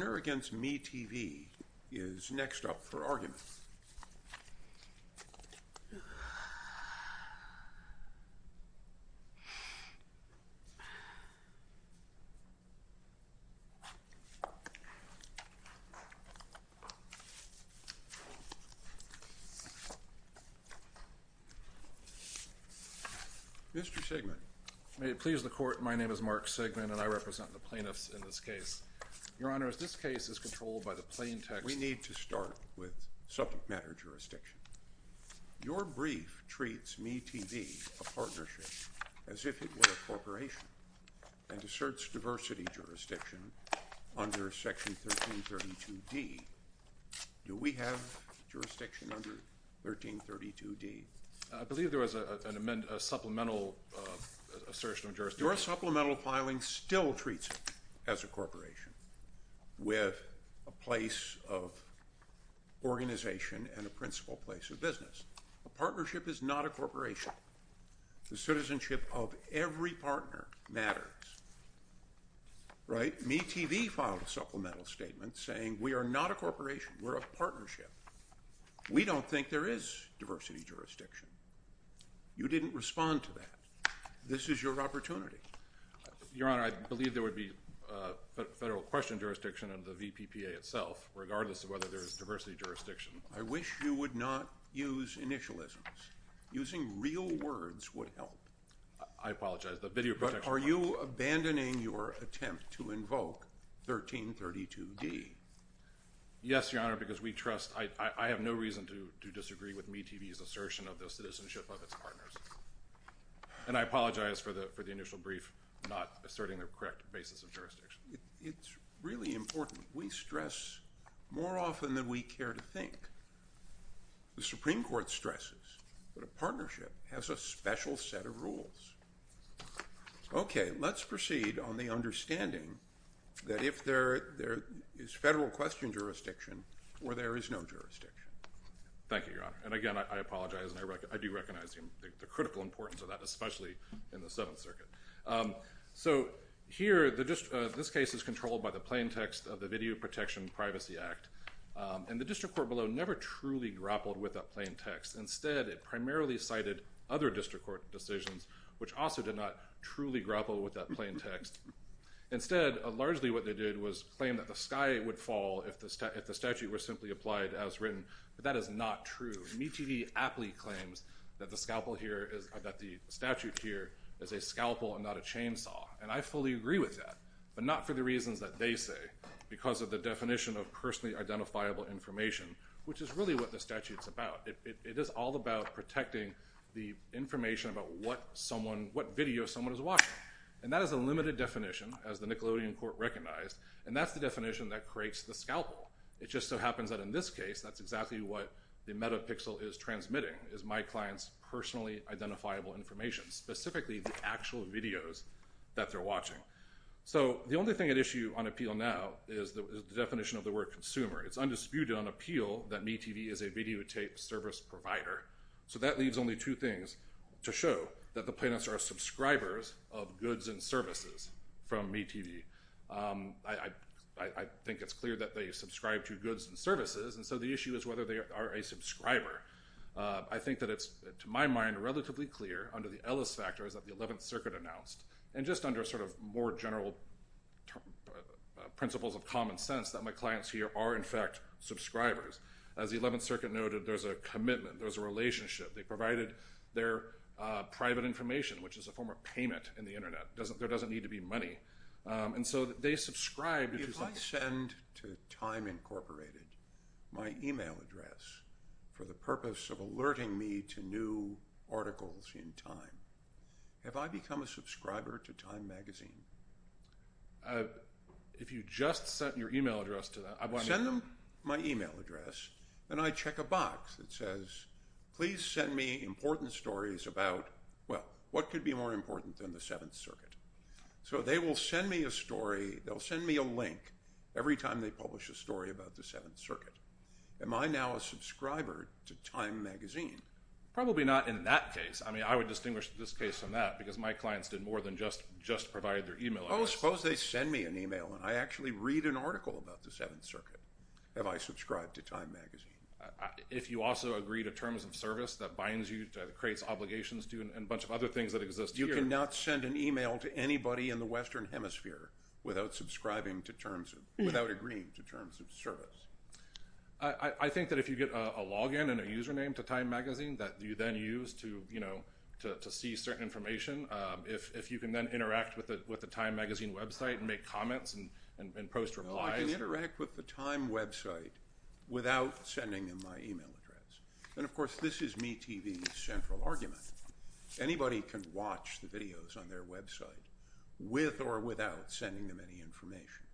Vance Gardner v. MeTV is next up for argument. Mr. Segman. May it please the Court, my name is Mark Segman and I represent the plaintiffs in this case. Your Honor, as this case is controlled by the plaintext... We need to start with subject matter jurisdiction. Your brief treats MeTV, a partnership, as if it were a corporation and asserts diversity jurisdiction under Section 1332D. Do we have jurisdiction under 1332D? I believe there was a supplemental assertion of jurisdiction. Your supplemental filing still treats it as a corporation with a place of organization and a principal place of business. A partnership is not a corporation. The citizenship of every partner matters, right? MeTV filed a supplemental statement saying we are not a corporation, we're a partnership. We don't think there is diversity jurisdiction. You didn't respond to that. This is your opportunity. Your Honor, I believe there would be federal question jurisdiction under the VPPA itself, regardless of whether there is diversity jurisdiction. I wish you would not use initialisms. Using real words would help. I apologize. But are you abandoning your attempt to invoke 1332D? Yes, Your Honor, because we trust... I have no reason to disagree with MeTV's assertion of the citizenship of its partners. And I apologize for the initial brief, not asserting the correct basis of jurisdiction. It's really important. We stress more often than we care to think. The Supreme Court stresses that a partnership has a special set of rules. Okay, let's proceed on the understanding that if there is federal question jurisdiction or there is no jurisdiction. Thank you, Your Honor. And again, I apologize. And I do recognize the critical importance of that, especially in the Seventh Circuit. So here, this case is controlled by the plaintext of the Video Protection Privacy Act. And the district court below never truly grappled with that plaintext. Instead, it primarily cited other district court decisions, which also did not truly grapple with that plaintext. Instead, largely what they did was claim that the sky would fall if the statute were simply applied as written. But that is not true. MeTV aptly claims that the statute here is a scalpel and not a chainsaw. And I fully agree with that, but not for the reasons that they say, because of the definition of personally identifiable information, which is really what the statute is about. It is all about protecting the information about what video someone is watching. And that is a limited definition, as the Nickelodeon Court recognized, and that's the definition that creates the scalpel. It just so happens that in this case, that's exactly what the metapixel is transmitting, is my client's personally identifiable information, specifically the actual videos that they're watching. So the only thing at issue on appeal now is the definition of the word consumer. It's undisputed on appeal that MeTV is a videotape service provider. So that leaves only two things to show, that the plaintiffs are subscribers of goods and services from MeTV. I think it's clear that they subscribe to goods and services, and so the issue is whether they are a subscriber. I think that it's, to my mind, relatively clear under the Ellis factors that the 11th Circuit announced, and just under sort of more general principles of common sense, that my clients here are, in fact, subscribers. As the 11th Circuit noted, there's a commitment, there's a relationship. They provided their private information, which is a form of payment in the Internet. There doesn't need to be money. And so they subscribe to something. If I send to Time Incorporated my email address for the purpose of alerting me to new articles in Time, have I become a subscriber to Time Magazine? If you just sent your email address to them, I want to know. Send them my email address, and I check a box that says, please send me important stories about, well, what could be more important than the 7th Circuit? So they will send me a story. They'll send me a link every time they publish a story about the 7th Circuit. Am I now a subscriber to Time Magazine? Probably not in that case. I mean, I would distinguish this case from that because my clients did more than just provide their email address. Oh, suppose they send me an email, and I actually read an article about the 7th Circuit. Have I subscribed to Time Magazine? If you also agree to terms of service, that binds you, creates obligations to you, and a bunch of other things that exist here. You cannot send an email to anybody in the Western Hemisphere without subscribing to terms of – without agreeing to terms of service. I think that if you get a login and a username to Time Magazine that you then use to, you know, to see certain information, if you can then interact with the Time Magazine website and make comments and post replies. I can interact with the Time website without sending them my email address. And, of course, this is MeTV's central argument. Anybody can watch the videos on their website with or without sending them any information.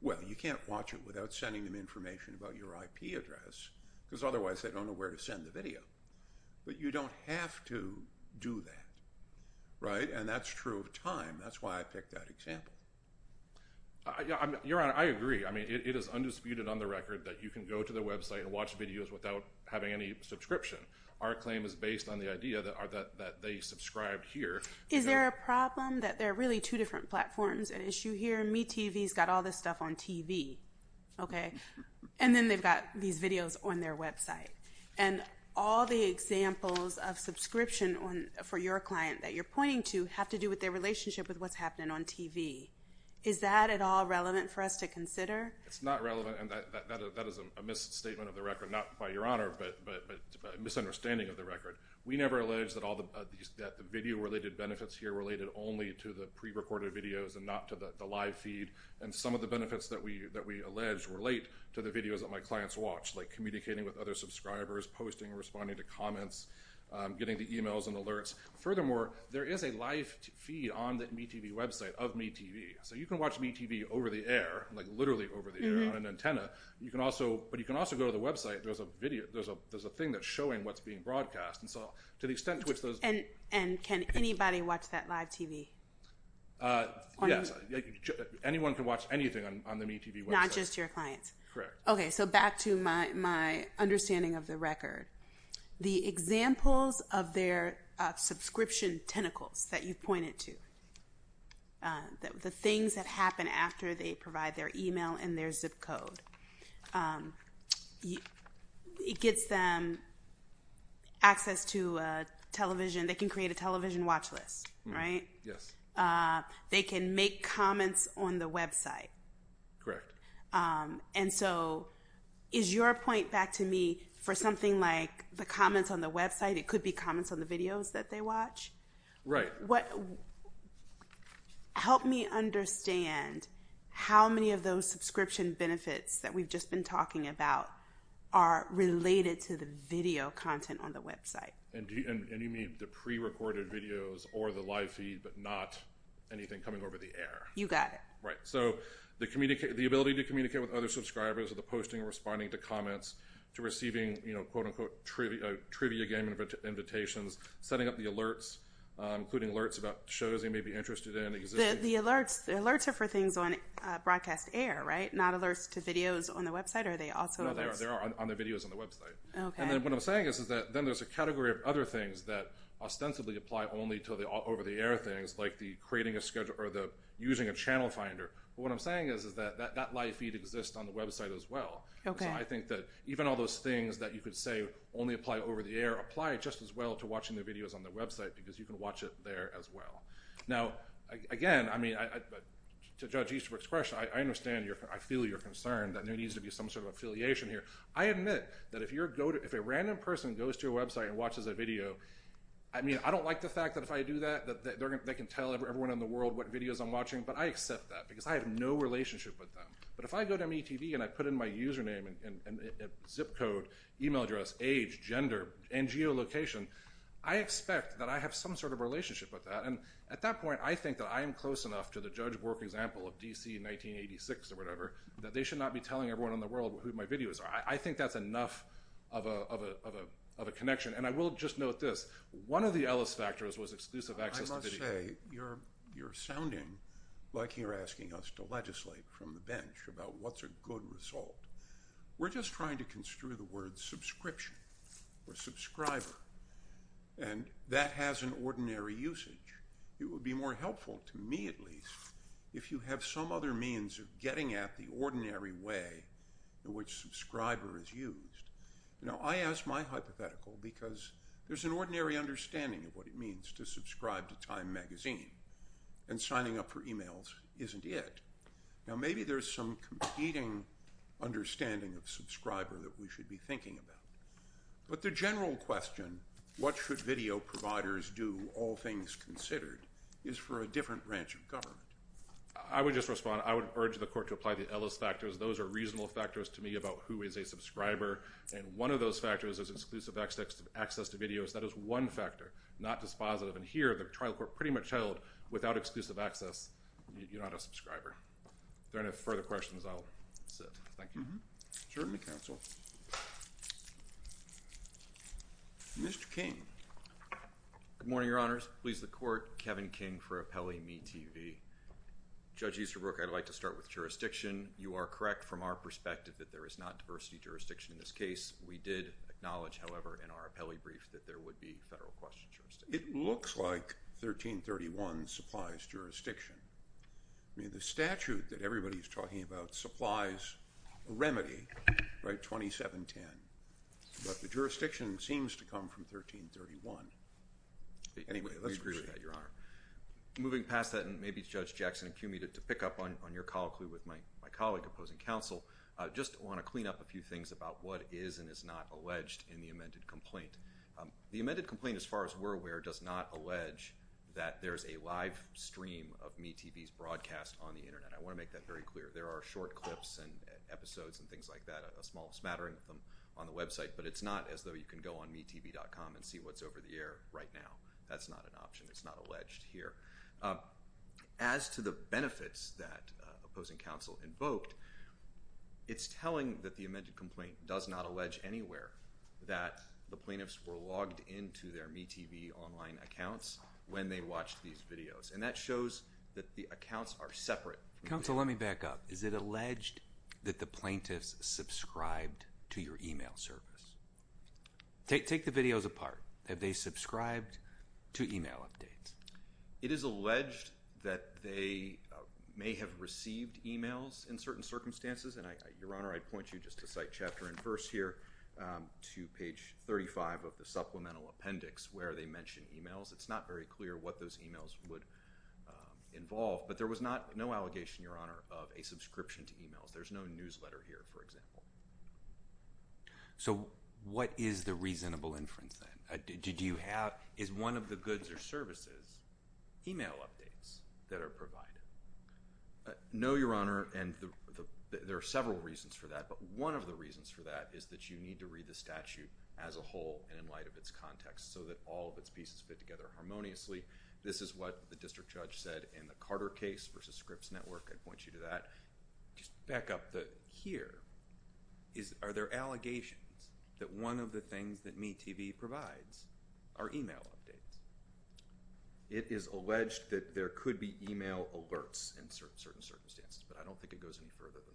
Well, you can't watch it without sending them information about your IP address because otherwise they don't know where to send the video. But you don't have to do that, right? And that's true of Time. That's why I picked that example. Your Honor, I agree. I mean, it is undisputed on the record that you can go to the website and watch videos without having any subscription. Our claim is based on the idea that they subscribed here. Is there a problem that there are really two different platforms at issue here? MeTV's got all this stuff on TV, okay? And then they've got these videos on their website. And all the examples of subscription for your client that you're pointing to have to do with their relationship with what's happening on TV. Is that at all relevant for us to consider? It's not relevant, and that is a misstatement of the record, not by Your Honor, but a misunderstanding of the record. We never allege that the video-related benefits here related only to the prerecorded videos and not to the live feed. And some of the benefits that we allege relate to the videos that my clients watch, like communicating with other subscribers, posting, responding to comments, getting the e-mails and alerts. Furthermore, there is a live feed on the MeTV website of MeTV. So you can watch MeTV over the air, like literally over the air on an antenna. But you can also go to the website. There's a thing that's showing what's being broadcast. And so to the extent to which those… And can anybody watch that live TV? Yes, anyone can watch anything on the MeTV website. Not just your clients? Correct. Okay, so back to my understanding of the record. The examples of their subscription tentacles that you've pointed to, the things that happen after they provide their e-mail and their zip code, it gets them access to television. They can create a television watch list, right? Yes. They can make comments on the website. Correct. And so is your point back to me for something like the comments on the website? It could be comments on the videos that they watch? Right. Help me understand how many of those subscription benefits that we've just been talking about are related to the video content on the website. And you mean the pre-recorded videos or the live feed, but not anything coming over the air? You got it. Right. So the ability to communicate with other subscribers of the posting, responding to comments, to receiving, quote-unquote, trivia game invitations, setting up the alerts, including alerts about shows they may be interested in. The alerts are for things on broadcast air, right? Not alerts to videos on the website? No, they are on the videos on the website. Okay. And what I'm saying is that then there's a category of other things that ostensibly apply only to the over-the-air things like using a channel finder. But what I'm saying is that that live feed exists on the website as well. Okay. So I think that even all those things that you could say only apply over the air apply just as well to watching the videos on the website because you can watch it there as well. Now, again, I mean, to judge Eastbrook's question, I understand your – I feel your concern that there needs to be some sort of affiliation here. I admit that if a random person goes to a website and watches a video, I mean, I don't like the fact that if I do that they can tell everyone in the world what videos I'm watching. But I accept that because I have no relationship with them. But if I go to MeTV and I put in my username and zip code, email address, age, gender, NGO location, I expect that I have some sort of relationship with that. And at that point, I think that I am close enough to the Judge Bork example of D.C. in 1986 or whatever that they should not be telling everyone in the world who my videos are. I think that's enough of a connection. And I will just note this. One of the Ellis factors was exclusive access to video. I must say you're sounding like you're asking us to legislate from the bench about what's a good result. We're just trying to construe the word subscription or subscriber, and that has an ordinary usage. It would be more helpful to me, at least, if you have some other means of getting at the ordinary way in which subscriber is used. Now, I ask my hypothetical because there's an ordinary understanding of what it means to subscribe to Time magazine, and signing up for emails isn't it. Now, maybe there's some competing understanding of subscriber that we should be thinking about. But the general question, what should video providers do, all things considered, is for a different branch of government. I would just respond. I would urge the Court to apply the Ellis factors. Those are reasonable factors to me about who is a subscriber, and one of those factors is exclusive access to videos. That is one factor, not dispositive. And here, the trial court pretty much held without exclusive access, you're not a subscriber. If there are any further questions, I'll sit. Thank you. Certainly, counsel. Mr. King. Good morning, Your Honors. Please, the Court. Kevin King for Appellee MeTV. Judge Easterbrook, I'd like to start with jurisdiction. You are correct from our perspective that there is not diversity jurisdiction in this case. We did acknowledge, however, in our appellee brief that there would be federal question jurisdiction. It looks like 1331 supplies jurisdiction. I mean, the statute that everybody is talking about supplies a remedy, right, 2710. But the jurisdiction seems to come from 1331. Anyway, let's agree with that, Your Honor. Moving past that, and maybe Judge Jackson, cue me to pick up on your call clue with my colleague opposing counsel. I just want to clean up a few things about what is and is not alleged in the amended complaint. The amended complaint, as far as we're aware, does not allege that there's a live stream of MeTV's broadcast on the Internet. I want to make that very clear. There are short clips and episodes and things like that, a small smattering of them on the website, but it's not as though you can go on MeTV.com and see what's over the air right now. That's not an option. It's not alleged here. As to the benefits that opposing counsel invoked, it's telling that the amended complaint does not allege anywhere that the plaintiffs were logged into their MeTV online accounts when they watched these videos, and that shows that the accounts are separate. Counsel, let me back up. Is it alleged that the plaintiffs subscribed to your email service? Take the videos apart. Have they subscribed to email updates? It is alleged that they may have received emails in certain circumstances, and, Your Honor, I'd point you just to cite chapter and verse here to page 35 of the supplemental appendix where they mention emails. It's not very clear what those emails would involve, but there was no allegation, Your Honor, of a subscription to emails. There's no newsletter here, for example. So what is the reasonable inference then? Is one of the goods or services email updates that are provided? No, Your Honor, and there are several reasons for that, but one of the reasons for that is that you need to read the statute as a whole and in light of its context so that all of its pieces fit together harmoniously. This is what the district judge said in the Carter case versus Scripps Network. I'd point you to that. Just back up here. Are there allegations that one of the things that MeTV provides are email updates? It is alleged that there could be email alerts in certain circumstances, but I don't think it goes any further than that.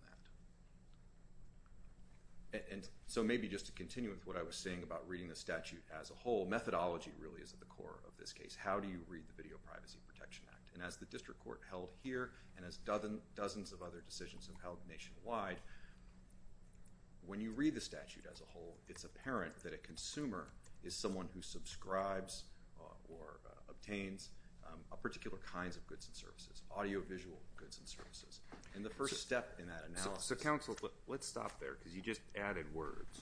And so maybe just to continue with what I was saying about reading the statute as a whole, methodology really is at the core of this case. How do you read the Video Privacy Protection Act? And as the district court held here and as dozens of other decisions have held nationwide, when you read the statute as a whole, it's apparent that a consumer is someone who subscribes or obtains particular kinds of goods and services, audiovisual goods and services. And the first step in that analysis. So, counsel, let's stop there because you just added words,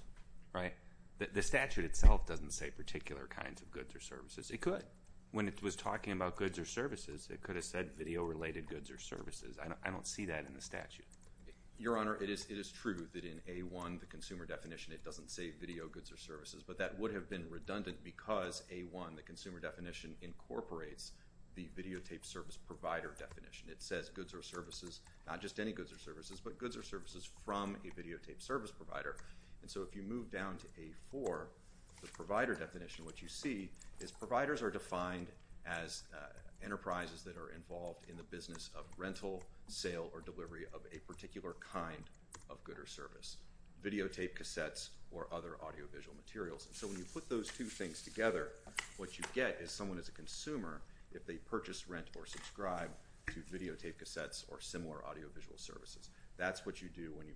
right? The statute itself doesn't say particular kinds of goods or services. It could. When it was talking about goods or services, it could have said video-related goods or services. I don't see that in the statute. Your Honor, it is true that in A1, the consumer definition, it doesn't say video goods or services, but that would have been redundant because A1, the consumer definition, incorporates the videotape service provider definition. It says goods or services, not just any goods or services, but goods or services from a videotape service provider. And so if you move down to A4, the provider definition, what you see is providers are defined as enterprises that are involved in the business of rental, sale, or delivery of a particular kind of good or service, videotape cassettes, or other audiovisual materials. And so when you put those two things together, what you get is someone as a consumer, if they purchase, rent, or subscribe to videotape cassettes or similar audiovisual services. That's what you do when you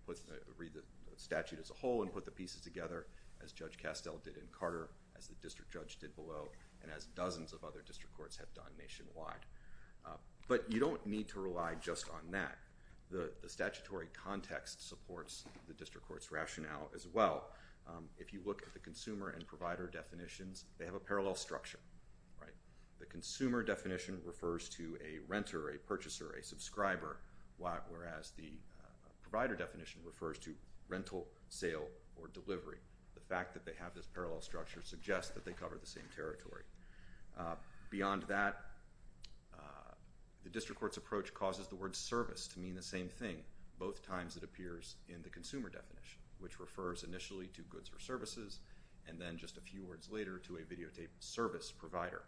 read the statute as a whole and put the pieces together, as Judge Castell did in Carter, as the district judge did below, and as dozens of other district courts have done nationwide. But you don't need to rely just on that. The statutory context supports the district court's rationale as well. If you look at the consumer and provider definitions, they have a parallel structure. The consumer definition refers to a renter, a purchaser, a subscriber, whereas the provider definition refers to rental, sale, or delivery. The fact that they have this parallel structure suggests that they cover the same territory. Beyond that, the district court's approach causes the word service to mean the same thing, both times it appears in the consumer definition, which refers initially to goods or services, and then just a few words later to a videotape service provider.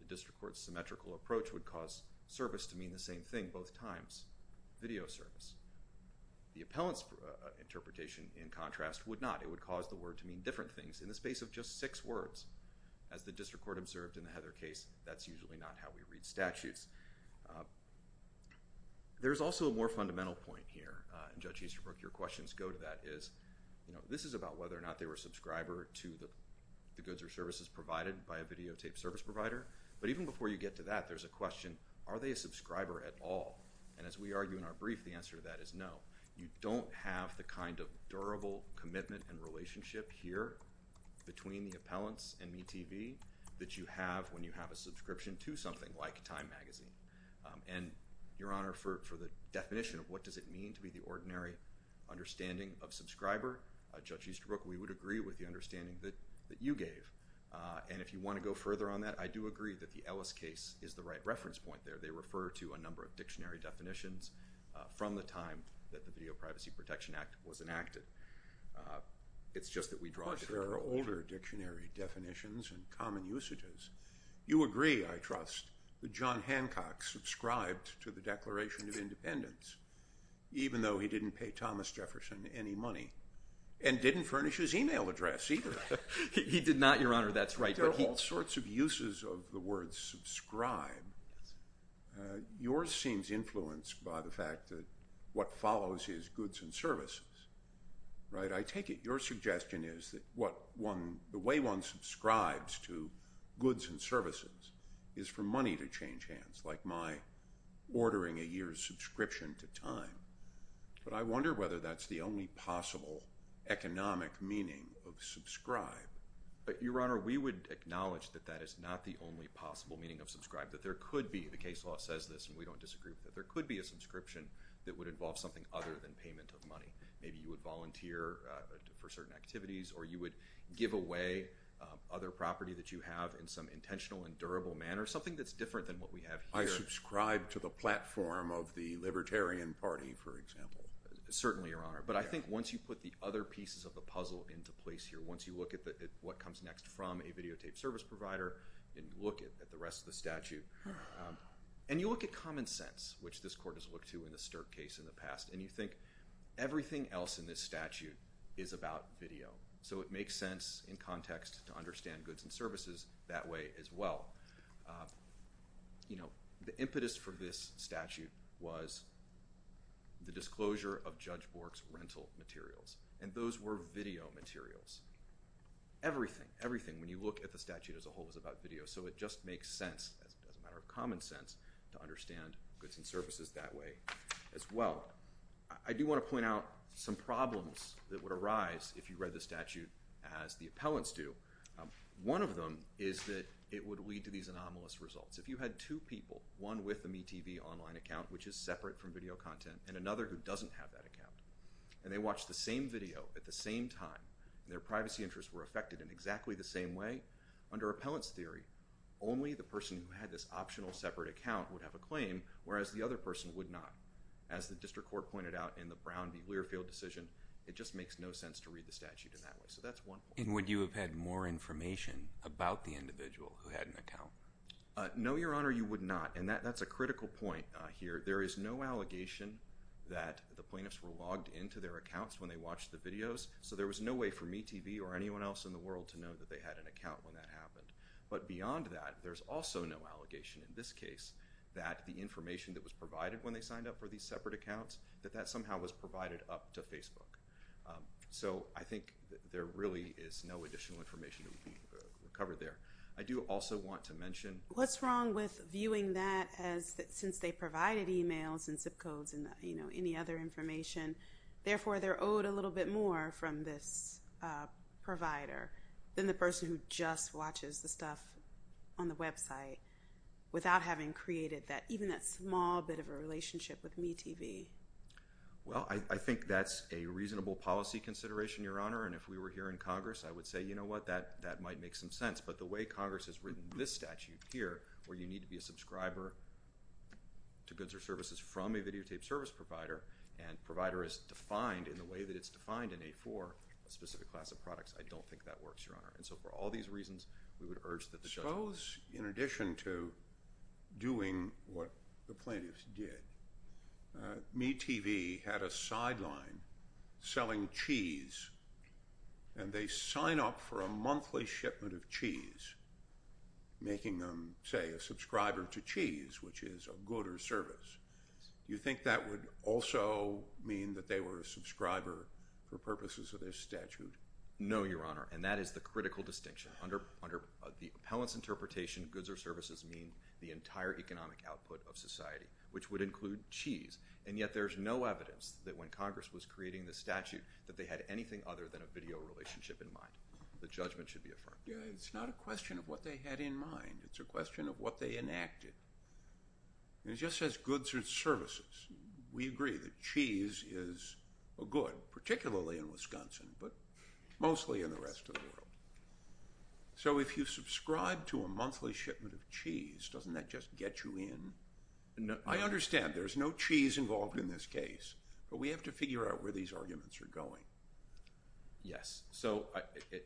The district court's symmetrical approach would cause service to mean the same thing both times, video service. The appellant's interpretation, in contrast, would not. It would cause the word to mean different things in the space of just six words. As the district court observed in the Heather case, that's usually not how we read statutes. There's also a more fundamental point here, and Judge Easterbrook, your questions go to that, is this is about whether or not they were a subscriber to the goods or services provided by a videotape service provider. But even before you get to that, there's a question, are they a subscriber at all? And as we argue in our brief, the answer to that is no. You don't have the kind of durable commitment and relationship here between the appellants and MeTV that you have when you have a subscription to something like Time Magazine. And, Your Honor, for the definition of what does it mean to be the ordinary understanding of subscriber, Judge Easterbrook, we would agree with the understanding that you gave. And if you want to go further on that, I do agree that the Ellis case is the right reference point there. They refer to a number of dictionary definitions from the time that the Video Privacy Protection Act was enacted. It's just that we draw a different view. But there are older dictionary definitions and common usages. You agree, I trust, that John Hancock subscribed to the Declaration of Independence, even though he didn't pay Thomas Jefferson any money and didn't furnish his e-mail address either. He did not, Your Honor, that's right. There are all sorts of uses of the word subscribe. Yours seems influenced by the fact that what follows is goods and services, right? I take it your suggestion is that the way one subscribes to goods and services is for money to change hands, like my ordering a year's subscription to Time. But I wonder whether that's the only possible economic meaning of subscribe. Your Honor, we would acknowledge that that is not the only possible meaning of subscribe, that there could be, the case law says this and we don't disagree with it, there could be a subscription that would involve something other than payment of money. Maybe you would volunteer for certain activities or you would give away other property that you have in some intentional and durable manner, something that's different than what we have here. I subscribe to the platform of the Libertarian Party, for example. Certainly, Your Honor. But I think once you put the other pieces of the puzzle into place here, once you look at what comes next from a videotaped service provider, and you look at the rest of the statute, and you look at common sense, which this Court has looked to in the Stirk case in the past, and you think everything else in this statute is about video. So it makes sense in context to understand goods and services that way as well. The impetus for this statute was the disclosure of Judge Bork's rental materials, and those were video materials. Everything, everything when you look at the statute as a whole is about video, so it just makes sense as a matter of common sense to understand goods and services that way as well. I do want to point out some problems that would arise if you read the statute as the appellants do. One of them is that it would lead to these anomalous results. If you had two people, one with a MeTV online account, which is separate from video content, and another who doesn't have that account, and they watch the same video at the same time, and their privacy interests were affected in exactly the same way, under appellant's theory, only the person who had this optional separate account would have a claim, whereas the other person would not. As the District Court pointed out in the Brown v. Learfield decision, it just makes no sense to read the statute in that way. So that's one point. And would you have had more information about the individual who had an account? No, Your Honor, you would not, and that's a critical point here. There is no allegation that the plaintiffs were logged into their accounts when they watched the videos, so there was no way for MeTV or anyone else in the world to know that they had an account when that happened. But beyond that, there's also no allegation in this case that the information that was provided when they signed up for these separate accounts, that that somehow was provided up to Facebook. So I think there really is no additional information that would be covered there. I do also want to mention— What's wrong with viewing that as, since they provided e-mails and zip codes and, you know, any other information, therefore they're owed a little bit more from this provider than the person who just watches the stuff on the website without having created even that small bit of a relationship with MeTV? Well, I think that's a reasonable policy consideration, Your Honor, and if we were here in Congress, I would say, you know what, that might make some sense. But the way Congress has written this statute here, where you need to be a subscriber to goods or services from a videotape service provider and provider is defined in the way that it's defined in A4, a specific class of products, I don't think that works, Your Honor. And so for all these reasons, we would urge that the judge— Suppose, in addition to doing what the plaintiffs did, MeTV had a sideline selling cheese and they sign up for a monthly shipment of cheese, making them, say, a subscriber to cheese, which is a good or service. Do you think that would also mean that they were a subscriber for purposes of this statute? No, Your Honor, and that is the critical distinction. Under the appellant's interpretation, goods or services mean the entire economic output of society, which would include cheese. And yet there's no evidence that when Congress was creating this statute that they had anything other than a video relationship in mind. The judgment should be affirmed. It's not a question of what they had in mind. It's a question of what they enacted. It just says goods or services. We agree that cheese is a good, particularly in Wisconsin, but mostly in the rest of the world. So if you subscribe to a monthly shipment of cheese, doesn't that just get you in? I understand there's no cheese involved in this case, but we have to figure out where these arguments are going. So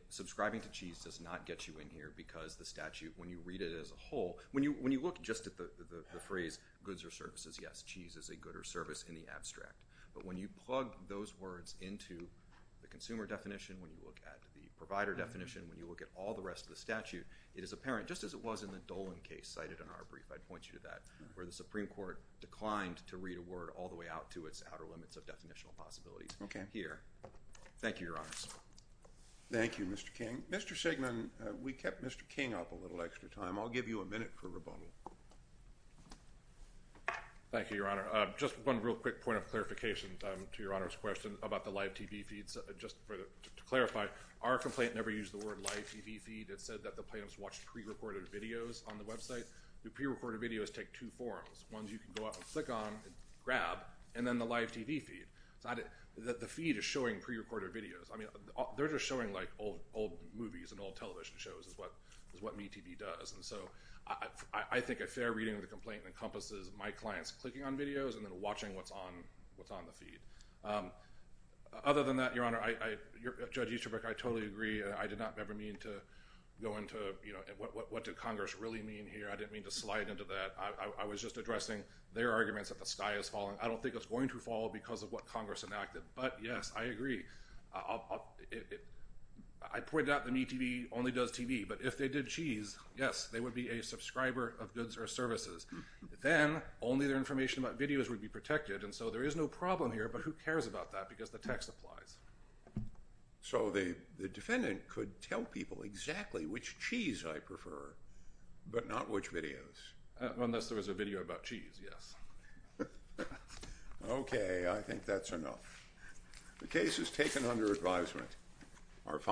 subscribing to cheese does not get you in here because the statute, when you read it as a whole, when you look just at the phrase goods or services, yes, cheese is a good or service in the abstract. But when you plug those words into the consumer definition, when you look at the provider definition, when you look at all the rest of the statute, it is apparent, just as it was in the Dolan case cited in our brief, if I'd point you to that, where the Supreme Court declined to read a word all the way out to its outer limits of definitional possibilities here. Thank you, Your Honors. Thank you, Mr. King. Mr. Sigmund, we kept Mr. King up a little extra time. I'll give you a minute for rebuttal. Thank you, Your Honor. Just one real quick point of clarification to Your Honor's question about the live TV feeds. Just to clarify, our complaint never used the word live TV feed. It said that the plaintiffs watched prerecorded videos on the website. The prerecorded videos take two forms. One is you can go out and click on, grab, and then the live TV feed. The feed is showing prerecorded videos. I mean, they're just showing like old movies and old television shows is what MeTV does. And so I think a fair reading of the complaint encompasses my clients clicking on videos and then watching what's on the feed. Other than that, Your Honor, Judge Easterbrook, I totally agree. I did not ever mean to go into what did Congress really mean here. I didn't mean to slide into that. I was just addressing their arguments that the sky is falling. I don't think it's going to fall because of what Congress enacted. But, yes, I agree. I pointed out that MeTV only does TV. But if they did cheese, yes, they would be a subscriber of goods or services. Then only their information about videos would be protected. And so there is no problem here, but who cares about that because the text applies. So the defendant could tell people exactly which cheese I prefer, but not which videos. Unless there was a video about cheese, yes. Okay, I think that's enough. The case is taken under advisement.